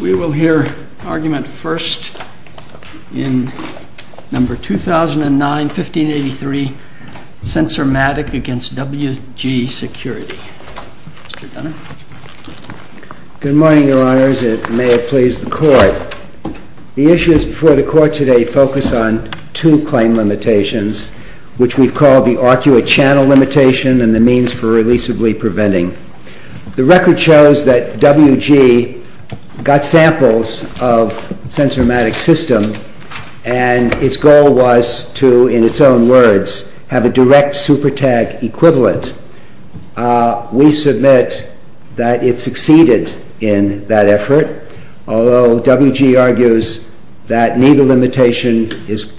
Good morning, Your Honors, and may it please the Court. The issues before the Court today focus on two claim limitations, which we have called the arcuate channel limitation and the means for releasably preventing. The record shows that WG got samples of SENSORMATIC system and its goal was to, in its own words, have a direct super tag equivalent. We submit that it succeeded in that effort, although WG argues that neither limitation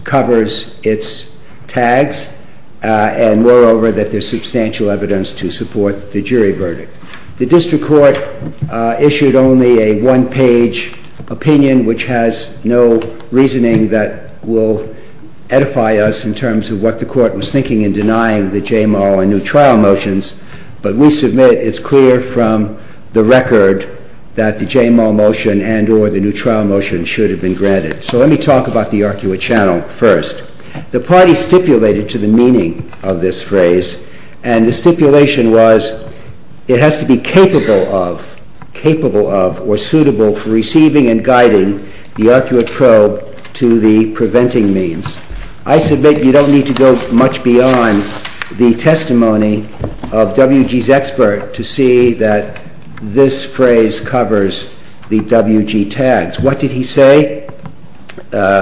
covers its tags and nor over that there's substantial evidence to support the jury verdict. The District Court issued only a one-page opinion, which has no reasoning that will edify us in terms of what the Court was thinking in denying the JMO and new trial motions, but we submit it's clear from the record that the JMO motion and or the new trial motion should have been granted. So let me talk about the arcuate channel first. The party stipulated to the meaning of this phrase, and the stipulation was, it has to be capable of, capable of, or suitable for receiving and guiding the arcuate probe to the preventing means. I submit you don't need to go much beyond the testimony of WG's expert to see that this phrase covers the WG tags. What did he say?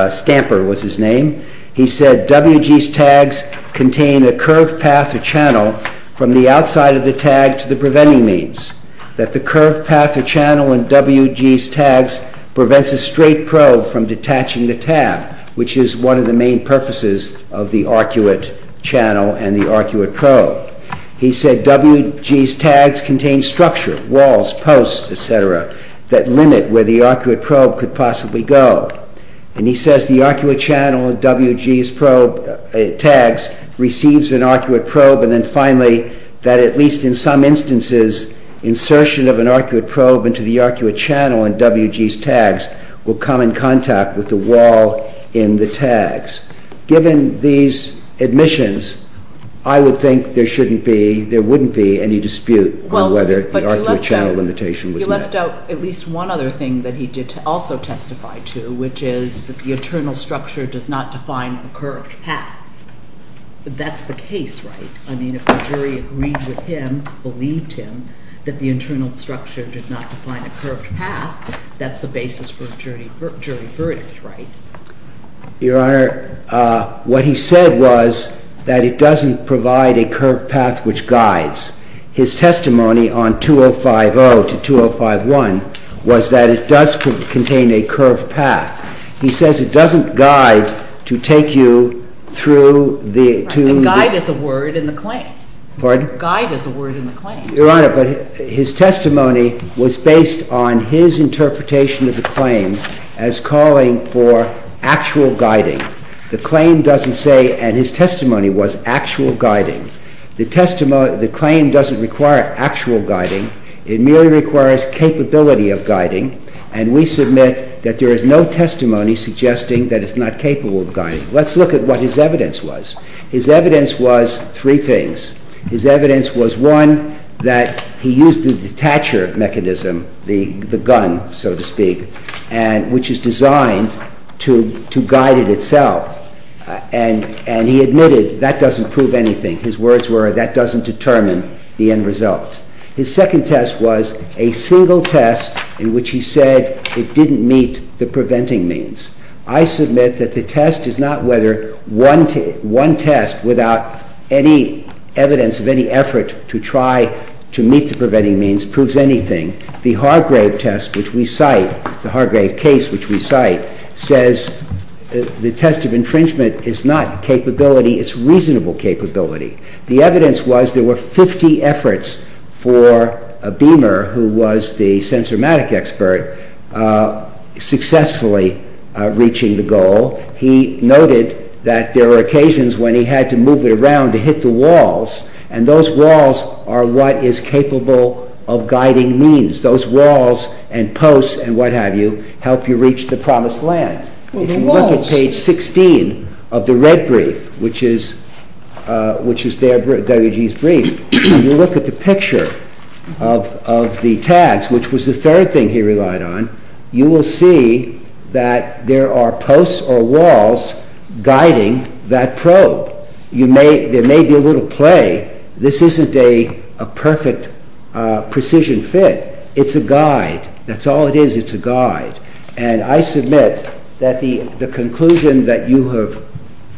Stamper was his name. He said WG's tags contain a curved path or channel from the outside of the tag to the preventing means, that the curved path or channel in WG's tags prevents a straight probe from detaching the tab, which is one of the main purposes of the arcuate channel and the arcuate probe. He said WG's tags contain structure, walls, posts, etc. that limit where the arcuate probe could possibly go. And he says the arcuate channel in WG's probe tags receives an arcuate probe and then finally that at least in some instances, insertion of an arcuate probe into the arcuate channel in WG's tags will come in contact with the wall in the tags. Given these admissions, I would think there shouldn't be, there wouldn't be any dispute on whether the arcuate channel limitation was met. He left out at least one other thing that he did also testify to, which is that the internal structure does not define a curved path. That's the case, right? I mean, if the jury agreed with him, believed him, that the internal structure did not define a curved path, that's the basis for a jury verdict, right? Your Honor, what he said was that it doesn't provide a curved path which guides. His testimony on 205-0 to 205-1 was that it does contain a curved path. He says it doesn't guide to take you through the, to the- Guide is a word in the claims. Pardon? Guide is a word in the claims. Your Honor, but his testimony was based on his interpretation of the claim as calling for actual guiding. The claim doesn't say, and his testimony was actual guiding. The testimony, the claim doesn't require actual guiding. It merely requires capability of guiding. And we submit that there is no testimony suggesting that it's not capable of guiding. Let's look at what his evidence was. His evidence was three things. His evidence was one, that he used the detacher mechanism, the gun, so to speak, and which is designed to, to guide it itself. And, and he admitted that doesn't prove anything. His words were that doesn't determine the end result. His second test was a single test in which he said it didn't meet the preventing means. I submit that the test is not whether one test without any evidence of any effort to try to meet the preventing means proves anything. The Hargrave test which we cite, the Hargrave case which we cite, says the test of infringement is not capability, it's reasonable capability. The evidence was there were 50 efforts for a beamer who was the sensorimatic expert, successfully reaching the goal. He noted that there were occasions when he had to move it around to hit the walls. And those walls are what is capable of guiding means. Those walls and posts and what have you help you reach the promised land. If you look at page 16 of the red brief, which is their, WG's brief. If you look at the picture of the tags, which was the third thing he relied on, you will see that there are posts or walls guiding that probe. You may, there may be a little play. This isn't a perfect precision fit. It's a guide. That's all it is, it's a guide. And I submit that the conclusion that you have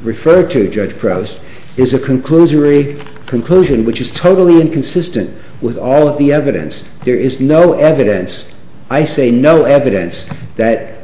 referred to, Judge Proust, is a conclusion which is totally inconsistent with all of the evidence. There is no evidence, I say no evidence, that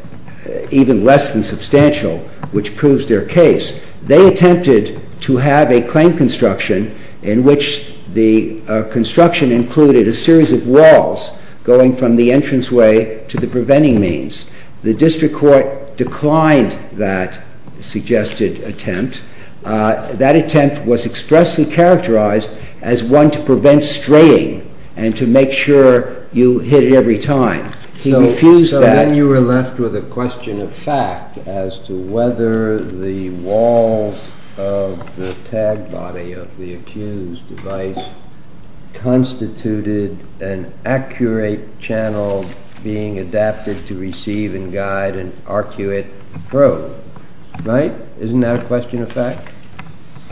even less than substantial, which proves their case. They attempted to have a claim construction in which the construction included a series of walls going from the entranceway to the preventing means. The district court declined that suggested attempt. That attempt was expressly characterized as one to prevent straying and to make sure you hit it every time. He refused that. So then you were left with a question of fact as to whether the walls of the tag body of the accused device constituted an accurate channel being adapted to receive and guide an arcuate probe, right? Isn't that a question of fact?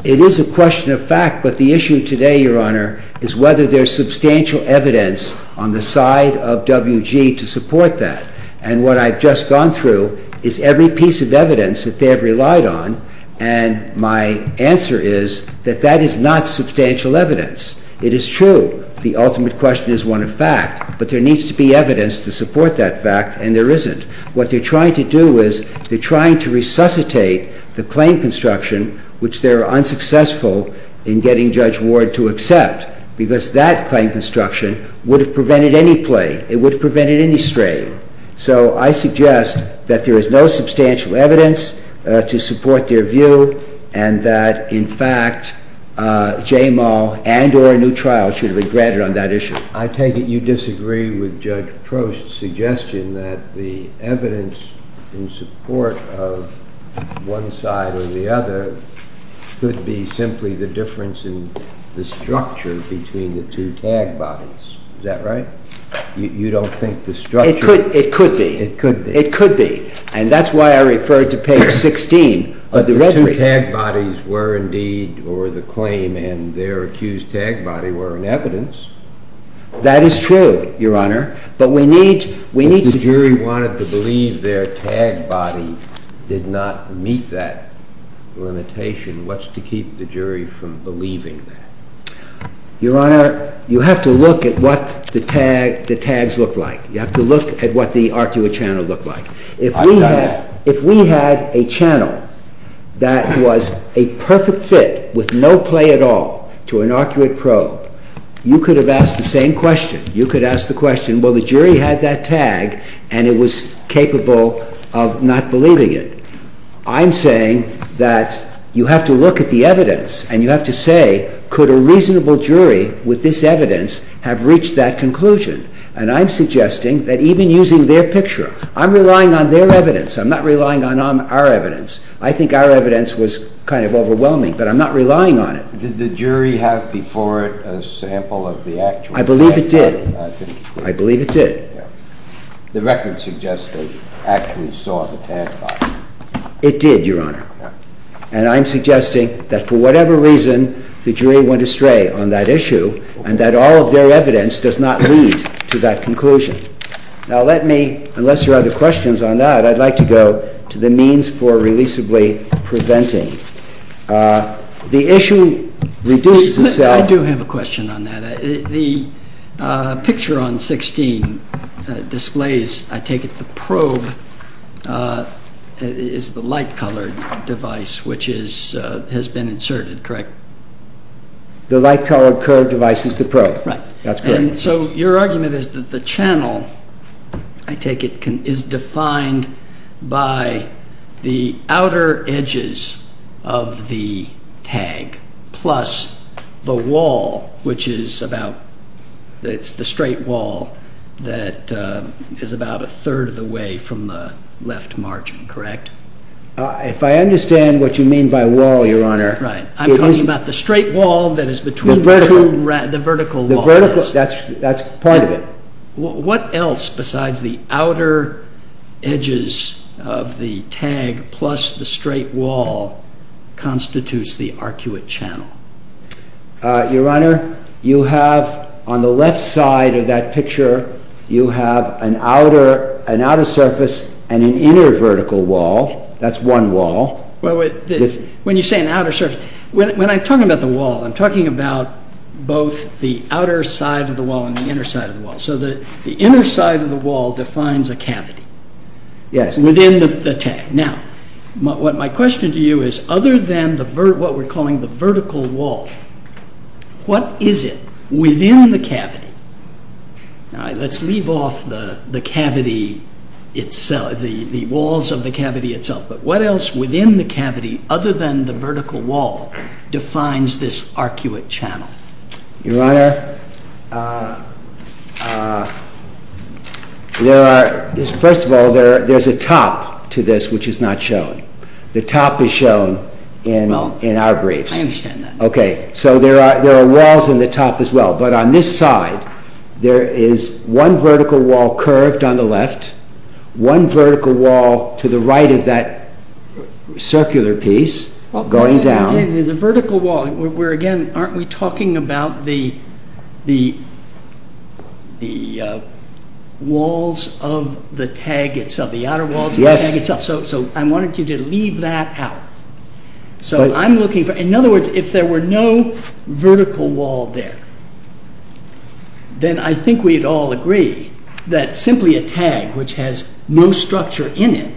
It is a question of fact, but the issue today, Your Honor, is whether there's substantial evidence on the side of WG to support that. And what I've just gone through is every piece of evidence that they have relied on. And my answer is that that is not substantial evidence. It is true, the ultimate question is one of fact, but there needs to be evidence to support that fact, and there isn't. What they're trying to do is, they're trying to resuscitate the claim construction, which they're unsuccessful in getting Judge Ward to accept, because that claim construction would have prevented any play, it would have prevented any straying. So I suggest that there is no substantial evidence to support their view, and that, in fact, Jamal and or a new trial should be granted on that issue. I take it you disagree with Judge Prost's suggestion that the evidence in support of one side or the other could be simply the difference in the structure between the two tag bodies, is that right? You don't think the structure- It could be. It could be. It could be. And that's why I referred to page 16 of the- But the two tag bodies were indeed, or the claim and their accused tag body were in evidence. That is true, your honor. But we need- If the jury wanted to believe their tag body did not meet that limitation, what's to keep the jury from believing that? Your honor, you have to look at what the tags look like. You have to look at what the arcuate channel looked like. If we had a channel that was a perfect fit, with no play at all, to an arcuate probe, you could have asked the same question. You could have asked the question, well, the jury had that tag, and it was capable of not believing it. I'm saying that you have to look at the evidence, and you have to say, could a reasonable jury with this evidence have reached that conclusion? And I'm suggesting that even using their picture, I'm relying on their evidence. I'm not relying on our evidence. I think our evidence was kind of overwhelming, but I'm not relying on it. Did the jury have before it a sample of the actual- I believe it did. I believe it did. The record suggests they actually saw the tag body. It did, your honor. And I'm suggesting that for whatever reason, the jury went astray on that issue, and that all of their evidence does not lead to that conclusion. Now, let me, unless there are other questions on that, I'd like to go to the means for releasably preventing. The issue reduces itself- I do have a question on that. The picture on 16 displays, I take it the probe is the light colored device which has been inserted, correct? The light colored curved device is the probe. Right. That's correct. And so, your argument is that the channel, I take it, is defined by the outer edges of the tag. Plus the wall, which is about, it's the straight wall that is about a third of the way from the left margin, correct? If I understand what you mean by wall, your honor- Right. I'm talking about the straight wall that is between the two, the vertical wall. The vertical, that's the point of it. What else besides the outer edges of the tag plus the straight wall constitutes the arcuate channel? Your honor, you have on the left side of that picture, you have an outer surface and an inner vertical wall. That's one wall. Well, when you say an outer surface, when I'm talking about the wall, I'm talking about both the outer side of the wall and the inner side of the wall. So, the inner side of the wall defines a cavity within the tag. Now, what my question to you is, other than what we're calling the vertical wall, what is it within the cavity? Now, let's leave off the cavity itself, the walls of the cavity itself. But what else within the cavity, other than the vertical wall, defines this arcuate channel? Your honor, there are, first of all, there's a top to this which is not shown. The top is shown in our briefs. I understand that. Okay, so there are walls in the top as well. But on this side, there is one vertical wall curved on the left, one vertical wall to the right of that circular piece going down. The vertical wall, where again, aren't we talking about the walls of the tag itself, the outer walls of the tag itself? So, I wanted you to leave that out. So, I'm looking for, in other words, if there were no vertical wall there, then I think we'd all agree that simply a tag which has no structure in it,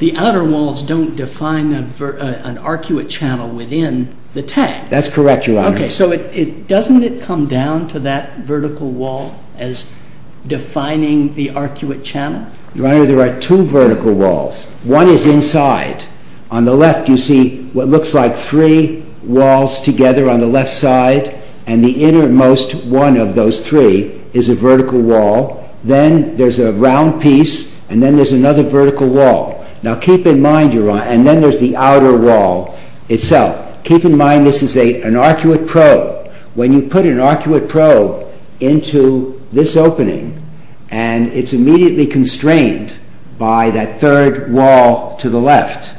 the outer walls don't define an arcuate channel within the tag. That's correct, your honor. Okay, so doesn't it come down to that vertical wall as defining the arcuate channel? Your honor, there are two vertical walls. One is inside. On the left, you see what looks like three walls together on the left side, and the innermost one of those three is a vertical wall. Then there's a round piece, and then there's another vertical wall. Now keep in mind, your honor, and then there's the outer wall itself. Keep in mind this is an arcuate probe. When you put an arcuate probe into this opening, and it's immediately constrained by that third wall to the left,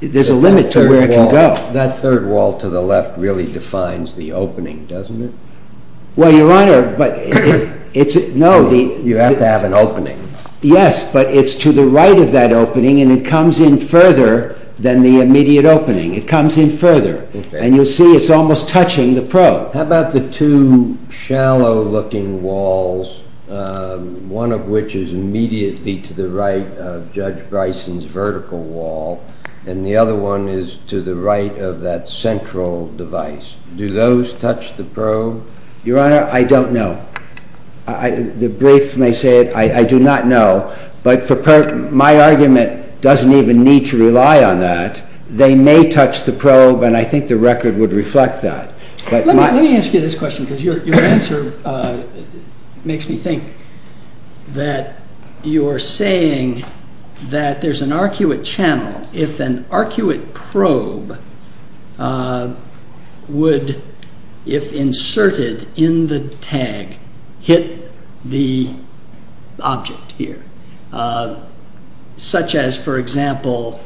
there's a limit to where it can go. That third wall to the left really defines the opening, doesn't it? Well, your honor, but it's, no. You have to have an opening. Yes, but it's to the right of that opening, and it comes in further than the immediate opening. It comes in further, and you'll see it's almost touching the probe. How about the two shallow looking walls, one of which is immediately to the right of Judge Bryson's vertical wall, and the other one is to the right of that central device. Do those touch the probe? Your honor, I don't know. The brief may say it, I do not know. But my argument doesn't even need to rely on that. They may touch the probe, and I think the record would reflect that. Let me ask you this question, because your answer makes me think that you're saying that there's an arcuate channel. If an arcuate probe would, if inserted in the tag, hit the object here, such as, for example,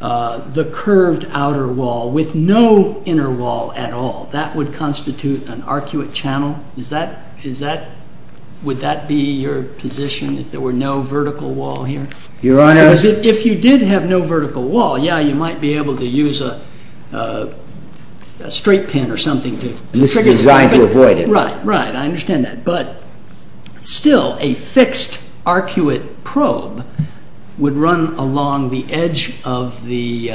the curved outer wall with no inner wall at all, that would constitute an arcuate channel. Would that be your position, if there were no vertical wall here? Your honor- If you did have no vertical wall, yeah, you might be able to use a straight pin or something to- And this is designed to avoid it. Right, right, I understand that. But still, a fixed arcuate probe would run along the edge of the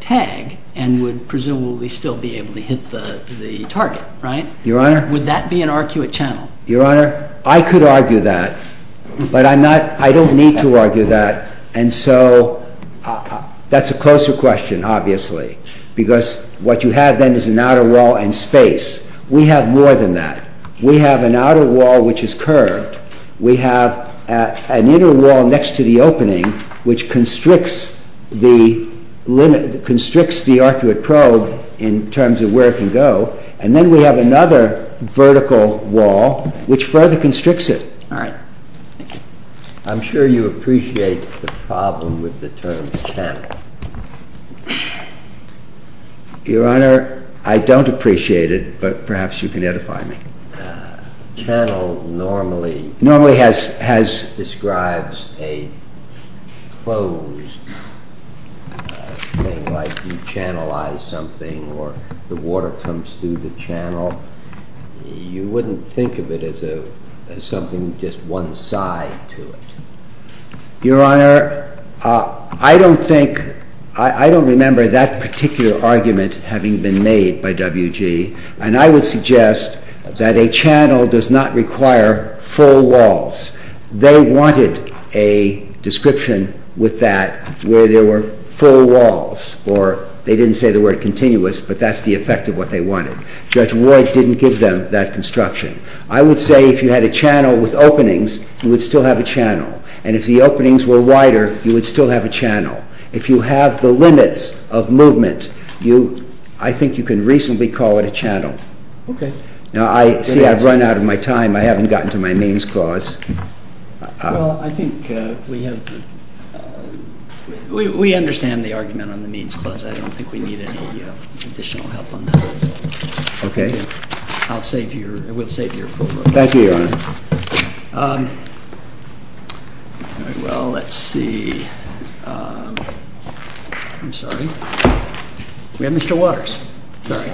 tag, and would presumably still be able to hit the target, right? Your honor- Would that be an arcuate channel? Your honor, I could argue that, but I'm not, I don't need to argue that. And so, that's a closer question, obviously, because what you have then is an outer wall and space. We have more than that. We have an outer wall which is curved. We have an inner wall next to the opening, which constricts the arcuate probe in terms of where it can go. And then we have another vertical wall, which further constricts it. All right. I'm sure you appreciate the problem with the term channel. Your honor, I don't appreciate it, but perhaps you can edify me. Channel normally- Normally has- Your honor, I don't think, I don't remember that particular argument having been made by WG. And I would suggest that a channel does not require full walls. They wanted a description with that, where there were full walls. Or they didn't say the word continuous, but that's the effect of what they wanted. Judge Ward didn't give them that construction. I would say if you had a channel with openings, you would still have a channel. And if the openings were wider, you would still have a channel. If you have the limits of movement, you, I think you can reasonably call it a channel. Okay. Now I, see I've run out of my time. I haven't gotten to my means clause. Well, I think we have, we understand the argument on the means clause. I don't think we need any additional help on that. Okay. I'll save your, we'll save your full vote. Thank you, your honor. Well, let's see. I'm sorry. We have Mr. Waters. Sorry.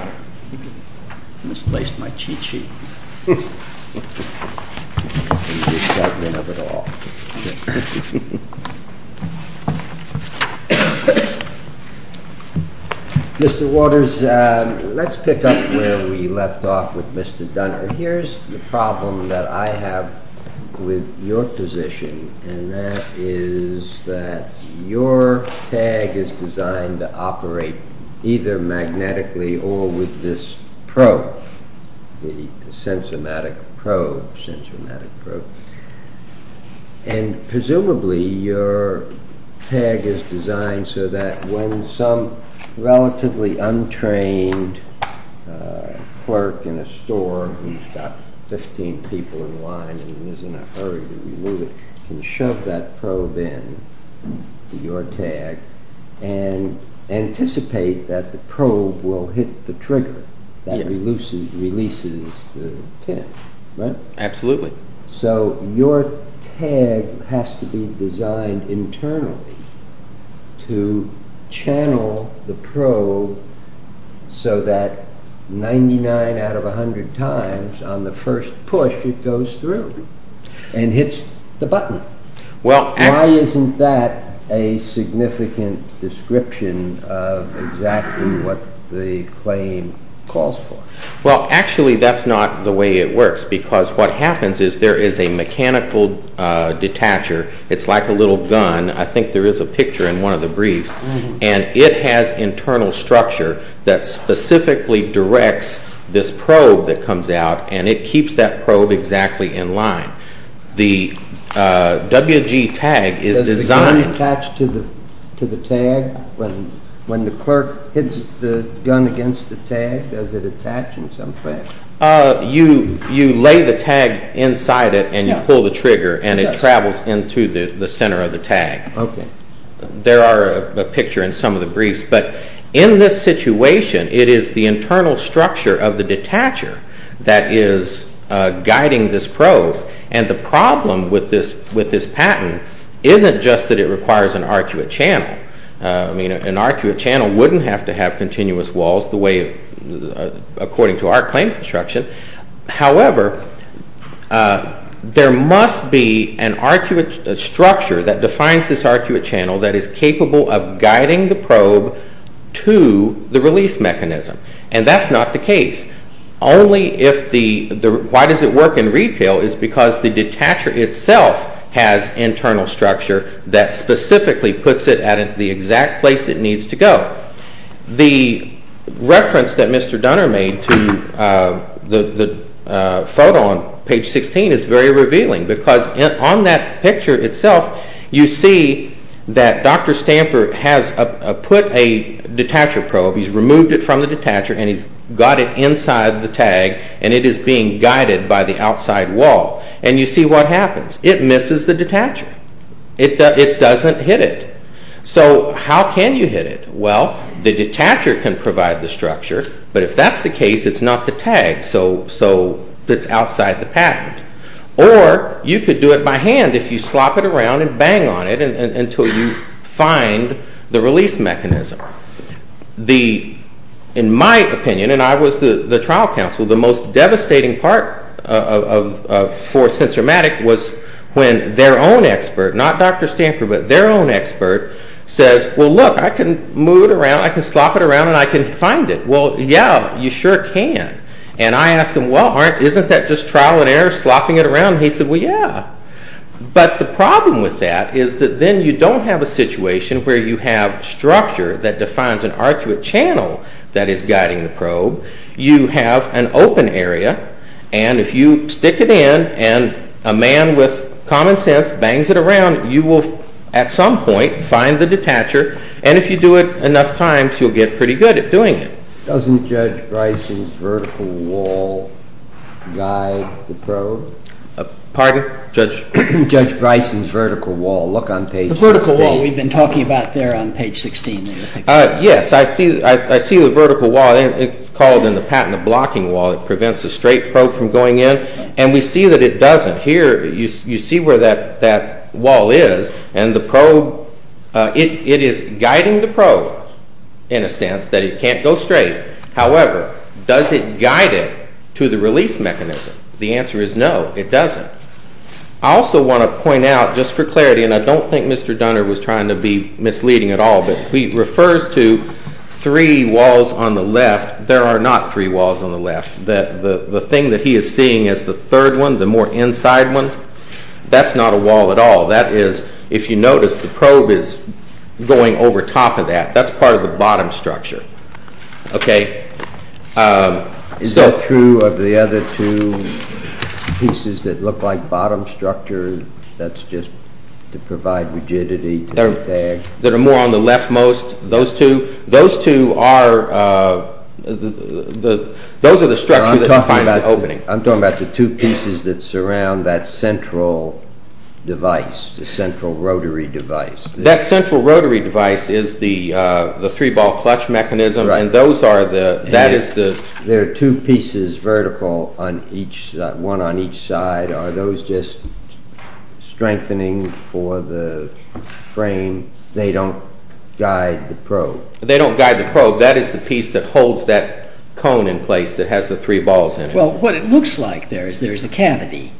Misplaced my cheat sheet. Mr. Waters, let's pick up where we left off with Mr. Dunner. Here's the problem that I have with your position. And that is that your tag is designed to operate either magnetically or with this probe. The sensor-matic probe, sensor-matic probe. And presumably your tag is designed so that when some relatively untrained clerk in a store who's got 15 people in line and is in a hurry to remove it, can shove that probe in to your tag and anticipate that the probe will hit the trigger that releases the pin, right? Absolutely. So your tag has to be designed internally to channel the probe so that 99 out of 100 times on the first push it goes through and hits the button. Why isn't that a significant description of exactly what the claim calls for? Well, actually that's not the way it works because what happens is there is a mechanical detacher. It's like a little gun. I think there is a picture in one of the briefs. And it has internal structure that specifically directs this probe that comes out and it keeps that probe exactly in line. The WG tag is designed... Does the gun attach to the tag? When the clerk hits the gun against the tag, does it attach in some way? You lay the tag inside it and you pull the trigger and it travels into the center of the tag. Okay. There are a picture in some of the briefs. But in this situation, it is the internal structure of the detacher that is guiding this probe and the problem with this patent isn't just that it requires an arcuate channel. An arcuate channel wouldn't have to have continuous walls according to our claim construction. However, there must be an arcuate structure that defines this arcuate channel that is capable of guiding the probe to the release mechanism. And that's not the case. Only if the... Why does it work in retail is because the detacher itself has internal structure that specifically puts it at the exact place it needs to go. The reference that Mr. Dunner made to the photo on page 16 is very revealing because on that picture itself, you see that Dr. Stamper has put a detacher probe. He's removed it from the detacher and he's got it inside the tag and it is being guided by the outside wall. And you see what happens. It misses the detacher. It doesn't hit it. So how can you hit it? Well, the detacher can provide the structure. But if that's the case, it's not the tag. So it's outside the patent. Or you could do it by hand if you slop it around and bang on it until you find the release mechanism. In my opinion, and I was the trial counsel, the most devastating part for Sensormatic was when their own expert, not Dr. Stamper, but their own expert says, well, look, I can move it around. I can slop it around and I can find it. Well, yeah, you sure can. And I asked him, well, isn't that just trial and error, slopping it around? He said, well, yeah. But the problem with that is that then you don't have a situation where you have structure that defines an arcuate channel that is guiding the probe. You have an open area. And if you stick it in and a man with common sense bangs it around, you will, at some point, find the detacher. And if you do it enough times, you'll get pretty good at doing it. Doesn't Judge Bryson's vertical wall guide the probe? Pardon? Judge Bryson's vertical wall. Look on page... The vertical wall we've been talking about there on page 16. Yes, I see the vertical wall. It's called in the patent, the blocking wall. It prevents a straight probe from going in. And we see that it doesn't. Here, you see where that wall is and the probe, it is guiding the probe in a sense that it can't go straight. However, does it guide it to the release mechanism? The answer is no, it doesn't. I also want to point out, just for clarity, and I don't think Mr. Dunner was trying to be misleading at all, but he refers to three walls on the left. There are not three walls on the left. The thing that he is seeing as the third one, the more inside one, that's not a wall at all. That is, if you notice, the probe is going over top of that. That's part of the bottom structure. Is that true of the other two pieces that look like bottom structure? That's just to provide rigidity to the tag? There are more on the left most. Those two are those are the structure that defines the opening. I'm talking about the two pieces that surround that central device, the central rotary device. That central rotary device is the three ball clutch mechanism and those are the There are two pieces vertical one on each side. Are those just strengthening for the frame? They don't guide the probe? They don't guide the probe. That is the piece that holds that cone in place that has the three balls in it. Well, what it looks like there is there is a cavity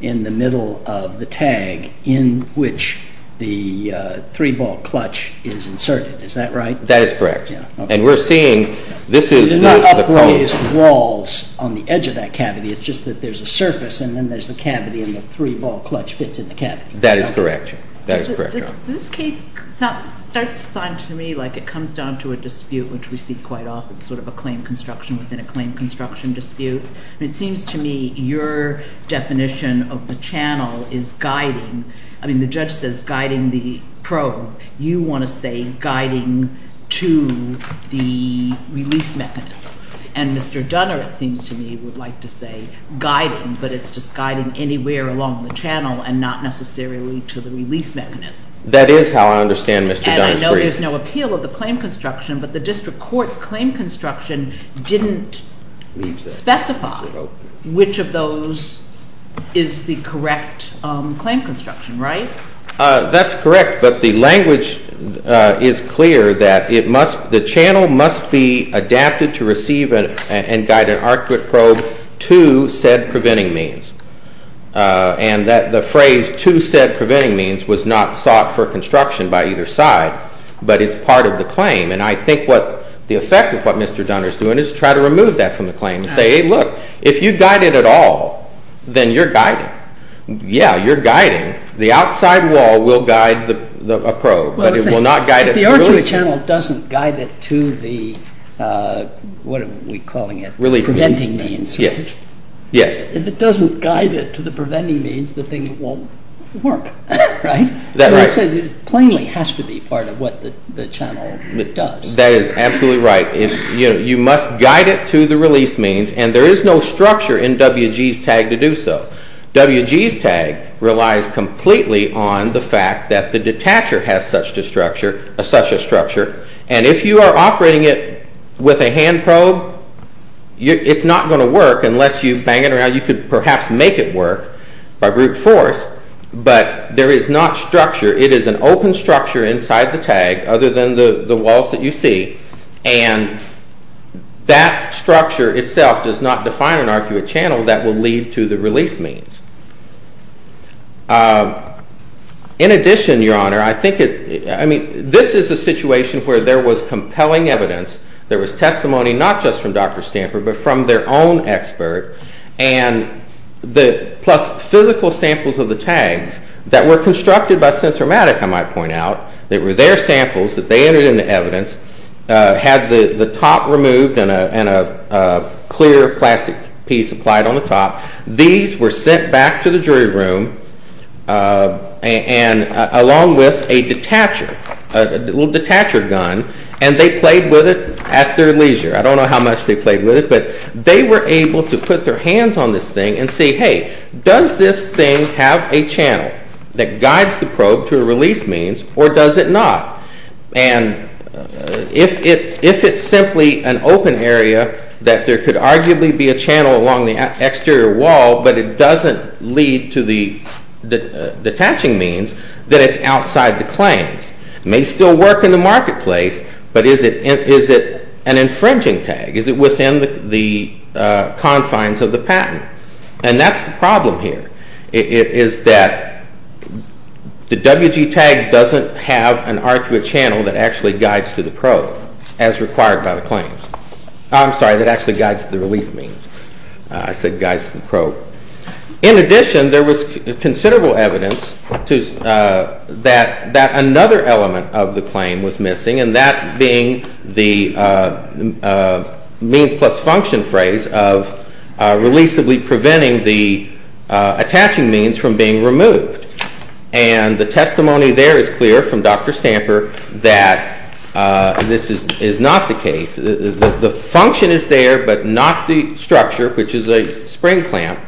in the middle of the tag in which the three ball clutch is inserted. Is that right? That is correct. There are no upraised walls on the edge of that cavity. It's just that there is a surface and then there is a cavity and the three ball clutch fits in the cavity. Does this case sound to me like it comes down to a dispute which we see quite often within a claim construction dispute? It seems to me your definition of the channel is guiding the probe. You want to say guiding to the release mechanism. And Mr. Dunner it seems to me would like to say guiding, but it's just guiding anywhere along the channel and not necessarily to the release mechanism. That is how I understand Mr. Dunner's brief. And I know there is no appeal of the claim construction but the District Court's claim construction didn't specify which of those is the correct claim construction, right? That's correct, but the language is clear that the channel must be adapted to receive and guide an arcuate probe to said preventing means. And the phrase to said preventing means was not sought for construction by either side, but it's part of the claim. And I think the effect of what Mr. Dunner is doing is to try to remove that from the claim and say, hey look, if you guide it at all then you're guiding. Yeah, you're guiding. The outside wall will guide a probe but it will not guide it to release. If the arcuate channel doesn't guide it to the what are we calling it? Preventing means, right? Yes. If it doesn't guide it to the preventing means the thing won't work, right? It plainly has to be part of what the channel does. That is absolutely right. You must guide it to the release means and there is no structure in WG's tag to do so. WG's tag relies completely on the fact that the detacher has such a structure and if you are operating it with a hand probe it's not going to work unless you bang it around. You could perhaps make it work by brute force but there is not structure. It is an open structure inside the tag other than the walls that you see and that structure itself does not define an arcuate channel that will lead to the release means. In addition, Your Honor, this is a situation where there was compelling evidence there was testimony not just from Dr. Stamper but from their own expert and plus physical samples of the tags that were constructed by Sensormatic, I might point out. They were their samples that they entered into evidence had the top removed and a clear plastic piece applied on the top. These were sent back to the jury room along with a detacher a little detacher gun and they played with it at their leisure. I don't know how much they played with it but they were able to put their hands on this thing and say, hey does this thing have a channel that guides the probe to a release means or does it not? And if it's simply an open area that there could arguably be a channel along the exterior wall but it doesn't lead to the detaching means, then it's outside the claims. It may still work in the marketplace but is it an infringing tag? Is it within the confines of the patent? And that's the problem here. It is that the WG tag doesn't have an arguable channel that actually guides to the probe as required by the claims. I'm sorry, that actually guides to the release means. I said guides to the probe. In addition, there was considerable evidence that another element of the claim was missing and that being the means plus function phrase of releasably preventing the attaching means from being removed and the testimony there is clear from Dr. Stamper that this is not the case. The function is there but not the structure, which is a spring clamp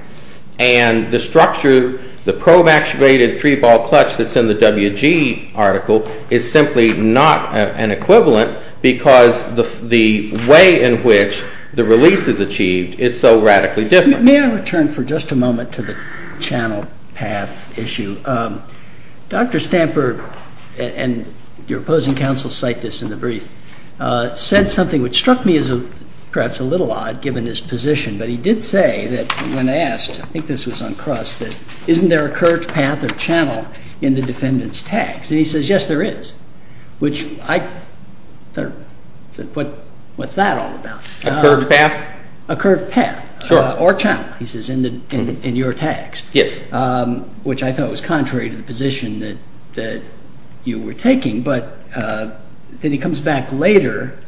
and the structure, the probe-activated three-ball clutch that's in the WG article is simply not an equivalent because the way in which the release is achieved is so radically different. May I return for just a moment to the channel-path issue? Dr. Stamper and your opposing counsel cite this in the brief said something which struck me as perhaps a little odd given his position but he did say that when asked I think this was on Crust that isn't there a curved path or channel in the defendant's tags? And he says yes, there is. What's that all about? A curved path? A curved path or channel in your tags? Yes. Which I thought was contrary to the position that you were taking but then he comes back later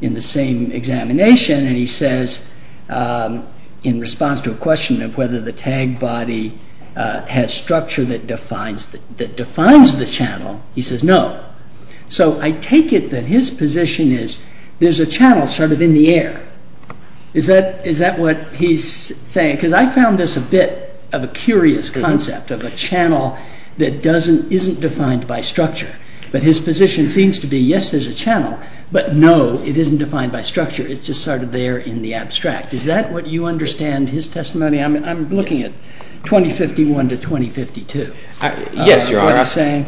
in the same examination and he says in response to a question of whether the tag body has structure that defines the channel, he says no. So I take it that his position is there's a channel sort of in the air. Is that what he's saying? Because I found this a bit of a curious concept of a channel that isn't defined by structure. But his position seems to be yes, there's a channel but no, it isn't defined by structure. It's just sort of there in the abstract. Is that what you understand his testimony? I'm looking at 2051 to 2052. Yes, Your Honor.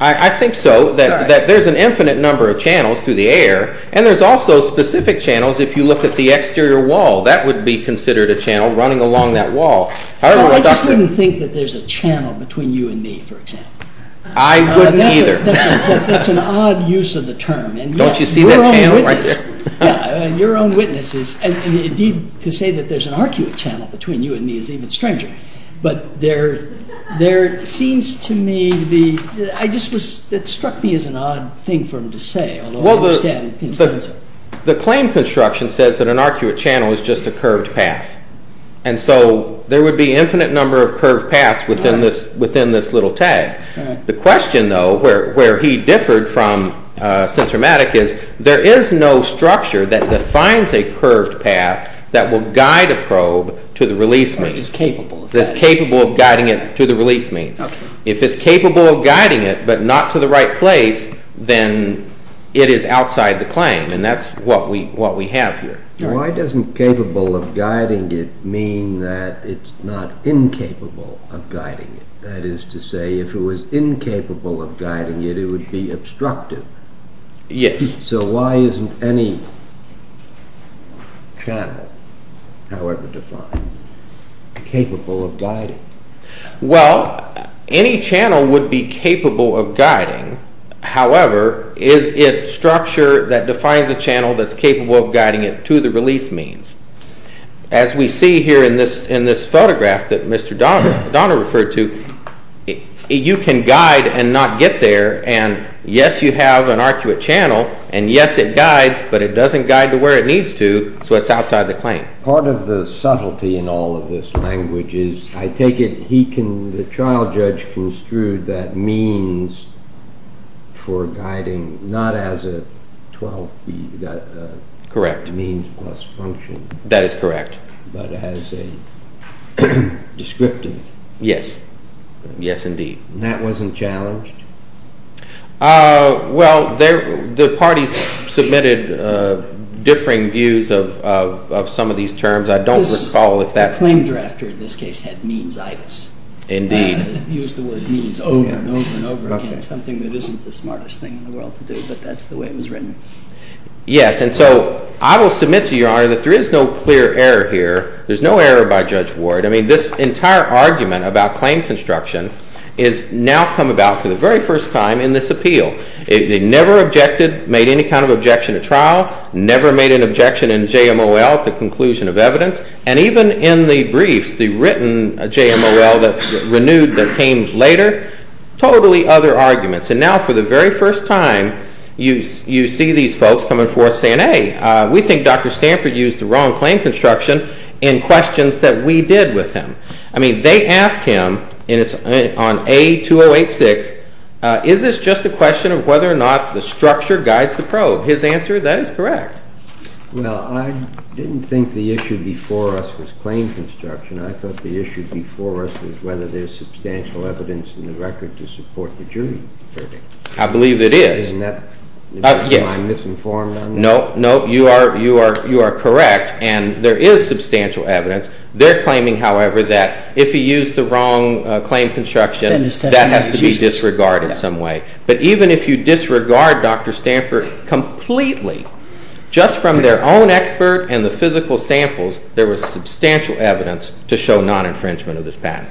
I think so. There's an infinite number of channels through the air and there's also specific channels if you look at the exterior wall. That would be considered a channel running along that wall. I just wouldn't think that there's a channel between you and me, for example. I wouldn't either. That's an odd use of the term. Don't you see that channel right there? Your own witness is... to say that there's an arcuate channel between you and me is even stranger. But there seems to me to be... It struck me as an odd thing for him to say. The claim construction says that an arcuate channel is just a curved path. And so there would be an infinite number of curved paths within this little tag. The question, though, where he differed from Sincermatic is there is no structure that defines a curved path that will guide a probe to the release means. It's capable of guiding it to the release means. If it's capable of guiding it but not to the right place, then it is outside the claim. And that's what we have here. Why doesn't capable of guiding it mean that it's not incapable of guiding it? That is to say, if it was incapable of guiding it, it would be obstructive. So why isn't any channel, however defined, capable of guiding it? Well, any channel would be capable of guiding. However, is it structure that defines a channel that's capable of guiding it to the release means? As we see here in this photograph that Mr. Donner referred to, you can guide and not get there, and yes, you have an arcuate channel, and yes, it guides, but it doesn't guide to where it needs to, so it's outside the claim. Part of the subtlety in all this language is, I take it he can, the trial judge, construed that means for guiding, not as a 12B means plus function. That is correct. But as a descriptive. Yes. Yes, indeed. That wasn't challenged? Well, the parties submitted differing views of some of these terms. I don't recall if that Claim drafter in this case had means IBIS. Indeed. Used the word means over and over and over again, something that isn't the smartest thing in the world to do, but that's the way it was written. Yes, and so I will submit to Your Honor that there is no clear error here. There's no error by Judge Ward. I mean, this entire argument about claim construction is now come about for the very first time in this appeal. It never objected, made any kind of objection at trial, never made an objection in JMOL, the conclusion of evidence, and even in the briefs, the written JMOL that renewed that came later, totally other arguments. And now for the very first time, you see these folks coming forth saying, hey, we think Dr. Stanford used the wrong claim construction in questions that we did with him. I mean, they asked him, on A-2086, is this just a question of whether or not the structure guides the probe? His answer, that is correct. Well, I didn't think the issue before us was claim construction. I thought the issue before us was whether there's substantial evidence in the record to support the jury verdict. I believe it is. Am I misinformed on that? No, you are correct, and there is substantial evidence. They're claiming, however, that if he used the wrong claim construction, that has to be disregarded in some way. But even if you completely, just from their own expert and the physical samples, there was substantial evidence to show non-infringement of this patent.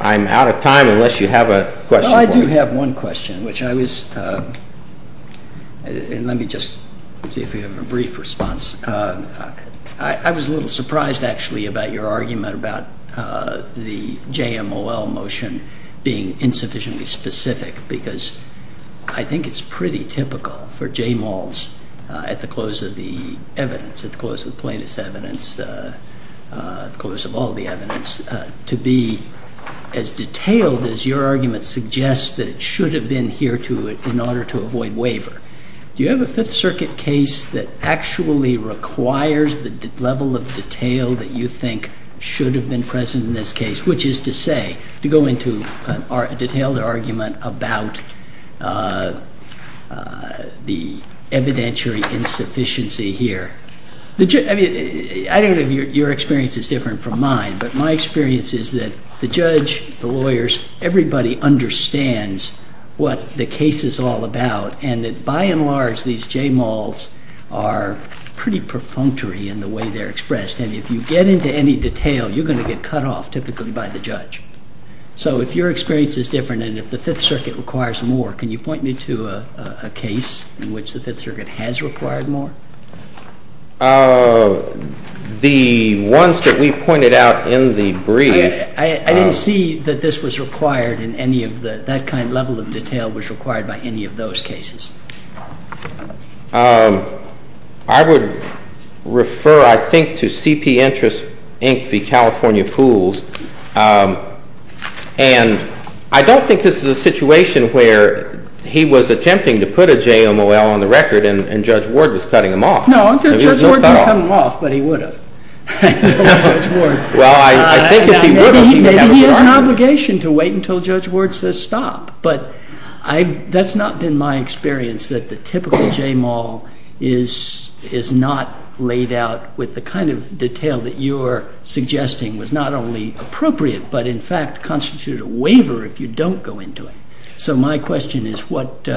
I'm out of time unless you have a question for me. Well, I do have one question, which I was and let me just see if we have a brief response. I was a little surprised, actually, about your argument about the JMOL motion being insufficiently specific, because I think it's pretty typical for JMOLs at the close of the evidence, at the close of the plaintiff's evidence, at the close of all the evidence, to be as detailed as your argument suggests that it should have been here to it in order to avoid waiver. Do you have a Fifth Circuit case that actually requires the level of detail that you think should have been present in this case, which is to say, to go into a detailed argument about the evidentiary insufficiency here? I mean, I don't know if your experience is different from mine, but my experience is that the judge, the lawyers, everybody understands what the case is all about, and that by and large these JMOLs are pretty perfunctory in the way they're expressed, and if you get into any detail, you're going to get cut off, typically, by the judge. So if your experience is different, and if the Fifth Circuit requires more, can you point me to a case in which the Fifth Circuit has required more? The ones that we pointed out in the brief... I didn't see that this was required in any of the that kind of level of detail was required by any of those cases. I would refer, I think, to CP Interest, Inc. v. California Pools, and I don't think this is a situation where he was attempting to put a JMOL on the record, and Judge Ward was cutting him off. No, Judge Ward didn't cut him off, but he would have. Well, I think if he would have... Maybe he has an obligation to wait until Judge Ward says stop, but that's not been my experience, that the typical JMOL is not laid out with the kind of detail that you're suggesting was not only appropriate, but in fact constituted a waiver if you don't go into it. So my question is what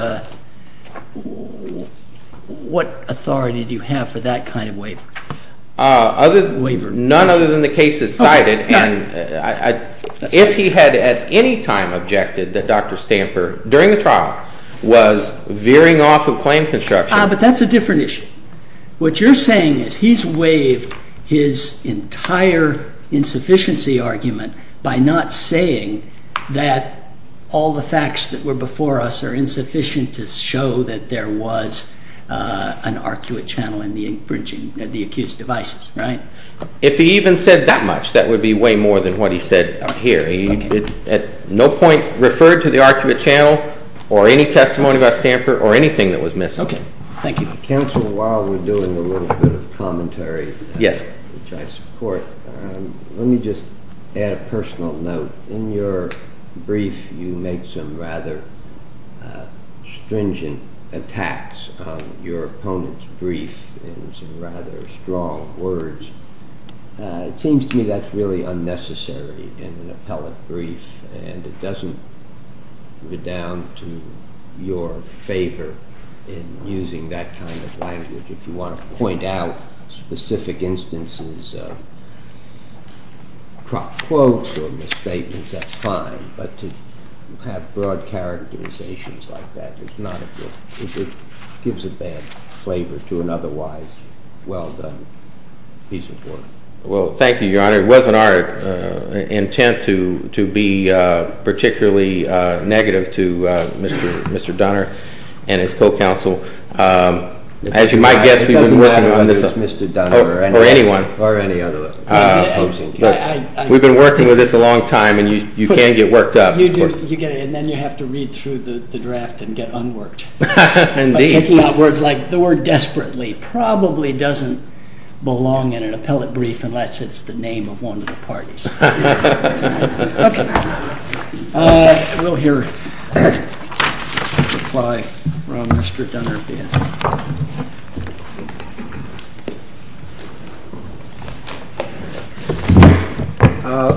authority do you have for that kind of waiver? None other than the case is cited, and if he had at any time objected that Dr. Stamper, during the trial, was veering off of claim construction... Ah, but that's a different issue. What you're saying is he's waived his entire insufficiency argument by not saying that all the facts that were before us are insufficient to show that there was an arcuate channel in the accused devices, right? If he even said that much, that would be way more than what he said here. referred to the arcuate channel, or any testimony about Stamper, or anything that was While we're doing a little bit of commentary, which I support, let me just add a personal note. In your brief, you make some rather stringent attacks on your opponent's brief in some rather strong words. It seems to me that's really unnecessary in an appellate brief, and it doesn't go down to your favor in using that kind of language. If you want to point out specific instances of cropped quotes or misstatements, that's fine, but to have broad characterizations like that is not a good... It gives a bad flavor to an otherwise well-done piece of work. Well, thank you, Your Honor. It wasn't our intent to be particularly negative to Mr. Donner and his co-counsel. As you might guess, we've been working on this... Or anyone. We've been working with this a long time, and you can get worked up. And then you have to read through the draft and get unworked. The word desperately probably doesn't belong in an appellate brief unless it's the name of one of the parties. Okay. We'll hear a reply from Mr. Donner.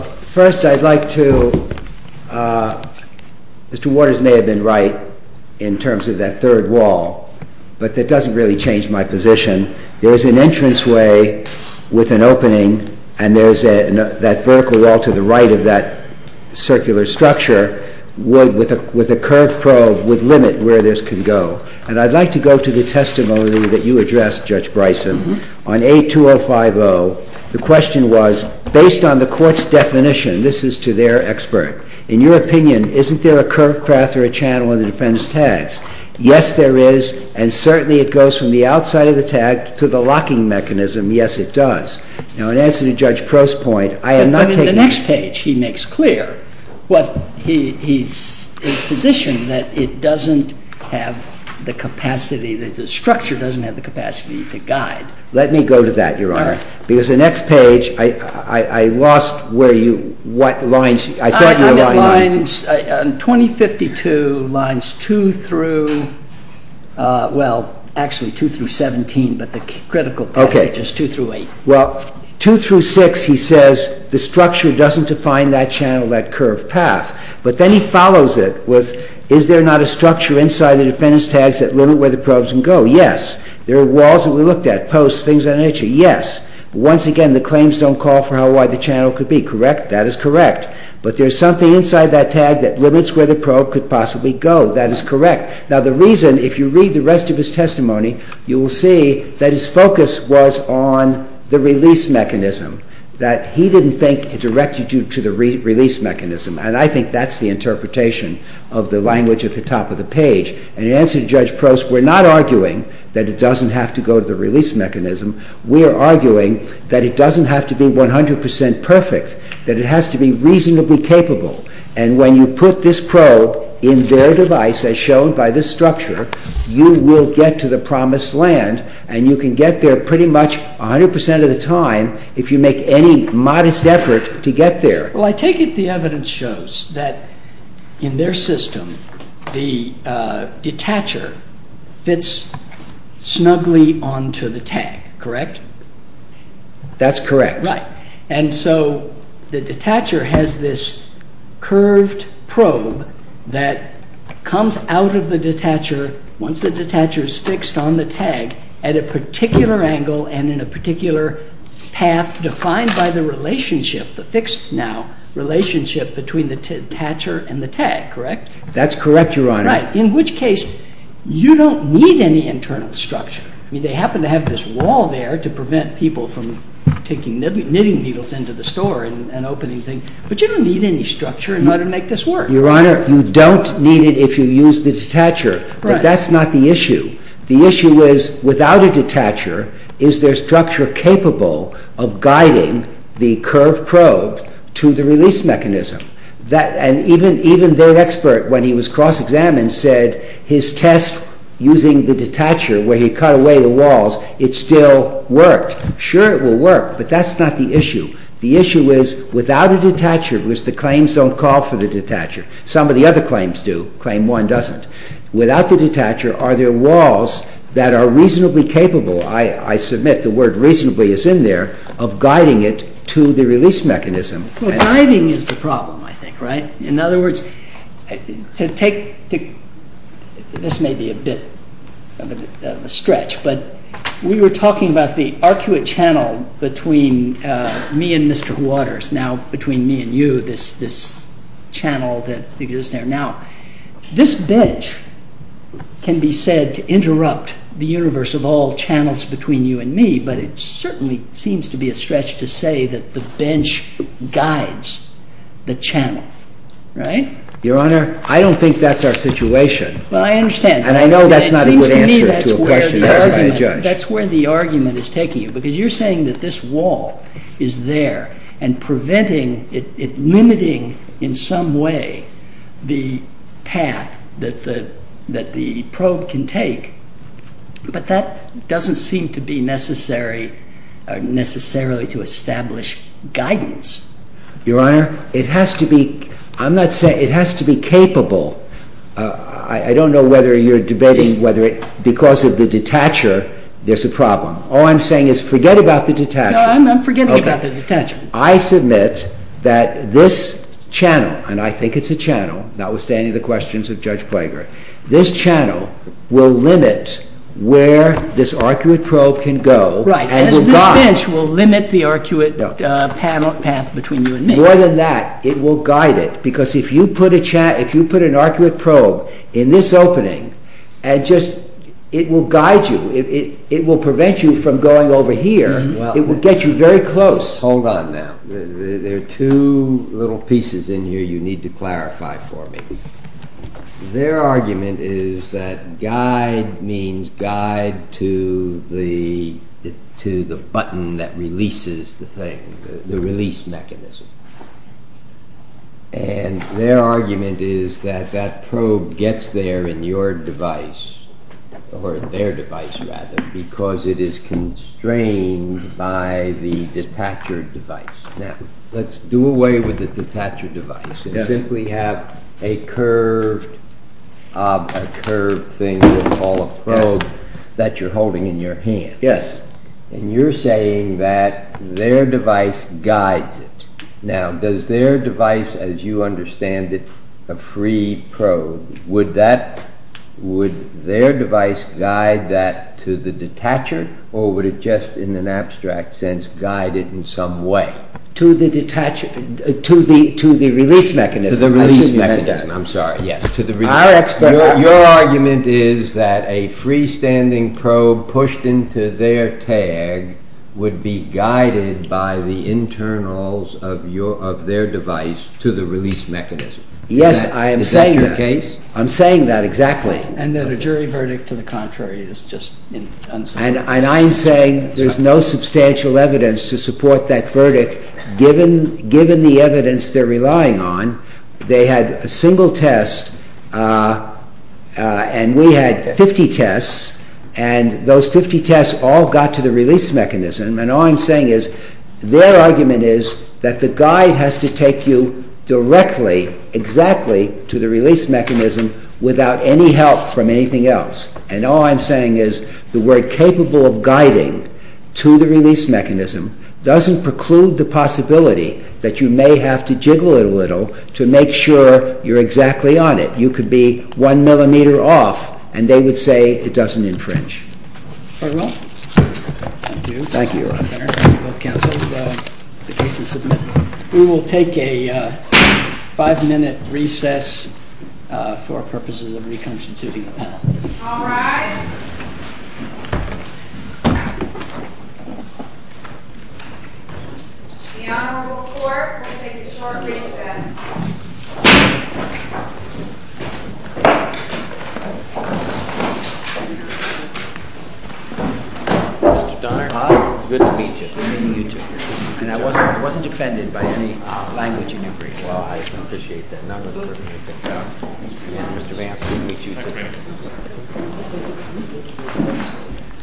First, I'd like to... Mr. Waters may have been right in terms of that third wall, but that doesn't really change my position. There's an entranceway with an opening, and there's that vertical wall to the right of that circular structure with a curved probe would limit where this could go. And I'd like to go to the testimony that you addressed, Judge Bryson, on A2050. The question was, based on the Court's definition, this is to their expert, in your opinion, isn't there a curved path or a channel in the defendant's tags? Yes, there is, and certainly it goes from the outside of the tag to the locking mechanism. Yes, it does. Now, in answer to the next page, he makes clear his position that it doesn't have the capacity, the structure doesn't have the capacity to guide. Let me go to that, Your Honor. Because the next page, I lost where you... I thought you were lying. A2052, lines 2 through... Well, actually, 2 through 17, but the critical passage is 2 through 8. Well, 2 through 6, he says, the structure doesn't define that channel, that curved path. But then he follows it with is there not a structure inside the defendant's tags that limit where the probes can go? Yes. There are walls that we looked at, posts, things of that nature. Yes. Once again, the claims don't call for how wide the channel could be. Correct? That is correct. But there's something inside that tag that limits where the probe could possibly go. That is correct. Now, the reason, if you read the rest of his testimony, you will see that his focus was on the release mechanism, that he didn't think it directed you to the release mechanism. And I think that's the interpretation of the language at the top of the page. And in answer to Judge Prost, we're not arguing that it doesn't have to go to the release mechanism. We're arguing that it doesn't have to be 100% perfect, that it has to be reasonably capable. And when you put this probe in their device, as shown by this structure, you will get to the promised land, and you can get there pretty much 100% of the time if you make any modest effort to get there. Well, I take it the evidence shows that in their system the detacher fits snugly onto the tag. Correct? That's correct. Right. And so the detacher has this curved probe that comes out of the detacher, once the detacher is in a particular angle and in a particular path defined by the relationship, the fixed now, relationship between the detacher and the tag. Correct? That's correct, Your Honor. Right. In which case you don't need any internal structure. I mean, they happen to have this wall there to prevent people from taking knitting needles into the store and opening things. But you don't need any structure in order to make this work. Your Honor, you don't need it if you use the detacher. Right. But that's not the issue. The issue is, without a detacher, is their structure capable of guiding the curved probe to the release mechanism? Even their expert, when he was cross-examined, said his test using the detacher, where he cut away the walls, it still worked. Sure it will work, but that's not the issue. The issue is without a detacher, because the claims don't call for the detacher. Some of the other claims do. Claim one doesn't. Without the detacher, are there walls that are reasonably capable I submit, the word reasonably is in there, of guiding it to the release mechanism? Guiding is the problem, I think. In other words, to take this may be a bit of a stretch, but we were talking about the arcuate channel between me and Mr. Waters, now between me and you, this channel that can be said to interrupt the universe of all channels between you and me, but it certainly seems to be a stretch to say that the bench guides the channel. Right? Your Honor, I don't think that's our situation. Well, I understand. And I know that's not a good answer to a question asked by a judge. That's where the argument is taking you, because you're saying that this wall is there, and preventing it, limiting in some way the path that the probe can take, but that doesn't seem to be necessary necessarily to establish guidance. Your Honor, it has to be I'm not saying, it has to be capable I don't know whether you're debating whether it, because of the detacher, there's a problem. All I'm saying is forget about the detacher. No, I'm forgetting about the detacher. I submit that this channel, notwithstanding the questions of Judge Plager, this channel will limit where this arcuate probe can go. Right, and this bench will limit the arcuate path between you and me. More than that, it will guide it because if you put a arcuate probe in this opening and just it will guide you. It will prevent you from going over here. It will get you very close. Hold on now. There are two little pieces in here you need to clarify for me. Their argument is that guide means guide to the button that releases the thing, the release mechanism. And their argument is that that probe gets there in your device or their device rather, because it is constrained by the detacher device. Now, let's do away with the detacher device and simply have a curved thing called a probe that you're holding in your hand. And you're saying that their device guides it. Now, does their device, as you understand it, a free probe, would that would their device guide that to the detacher or would it just in an abstract sense guide it in some way? To the release mechanism. I'm sorry. Your argument is that a freestanding probe pushed into their tag would be guided by the internals of their device to the release mechanism. Yes, I am saying that. I'm saying that exactly. And that a jury verdict to the contrary is just unsubstantial. And I'm saying there's no substantial evidence to support that verdict given the evidence they're relying on. They had a single test and we had 50 tests and those 50 tests all got to the release mechanism and all I'm saying is their argument is that the guide has to take you directly, exactly to the release mechanism without any help from anything else. And all I'm saying is the word capable of guiding to the release mechanism doesn't preclude the possibility that you may have to jiggle it a little to make sure you're exactly on it. You could be one millimeter off and they would say it doesn't infringe. Very well. Thank you. We will take a five minute recess for purposes of reconstituting. All rise. The Honorable Court will take a short recess. Mr. Donner, good to meet you. Good to meet you too. And I wasn't offended by any language in your brief. Well, I appreciate that. Mr. Vance, good to meet you............................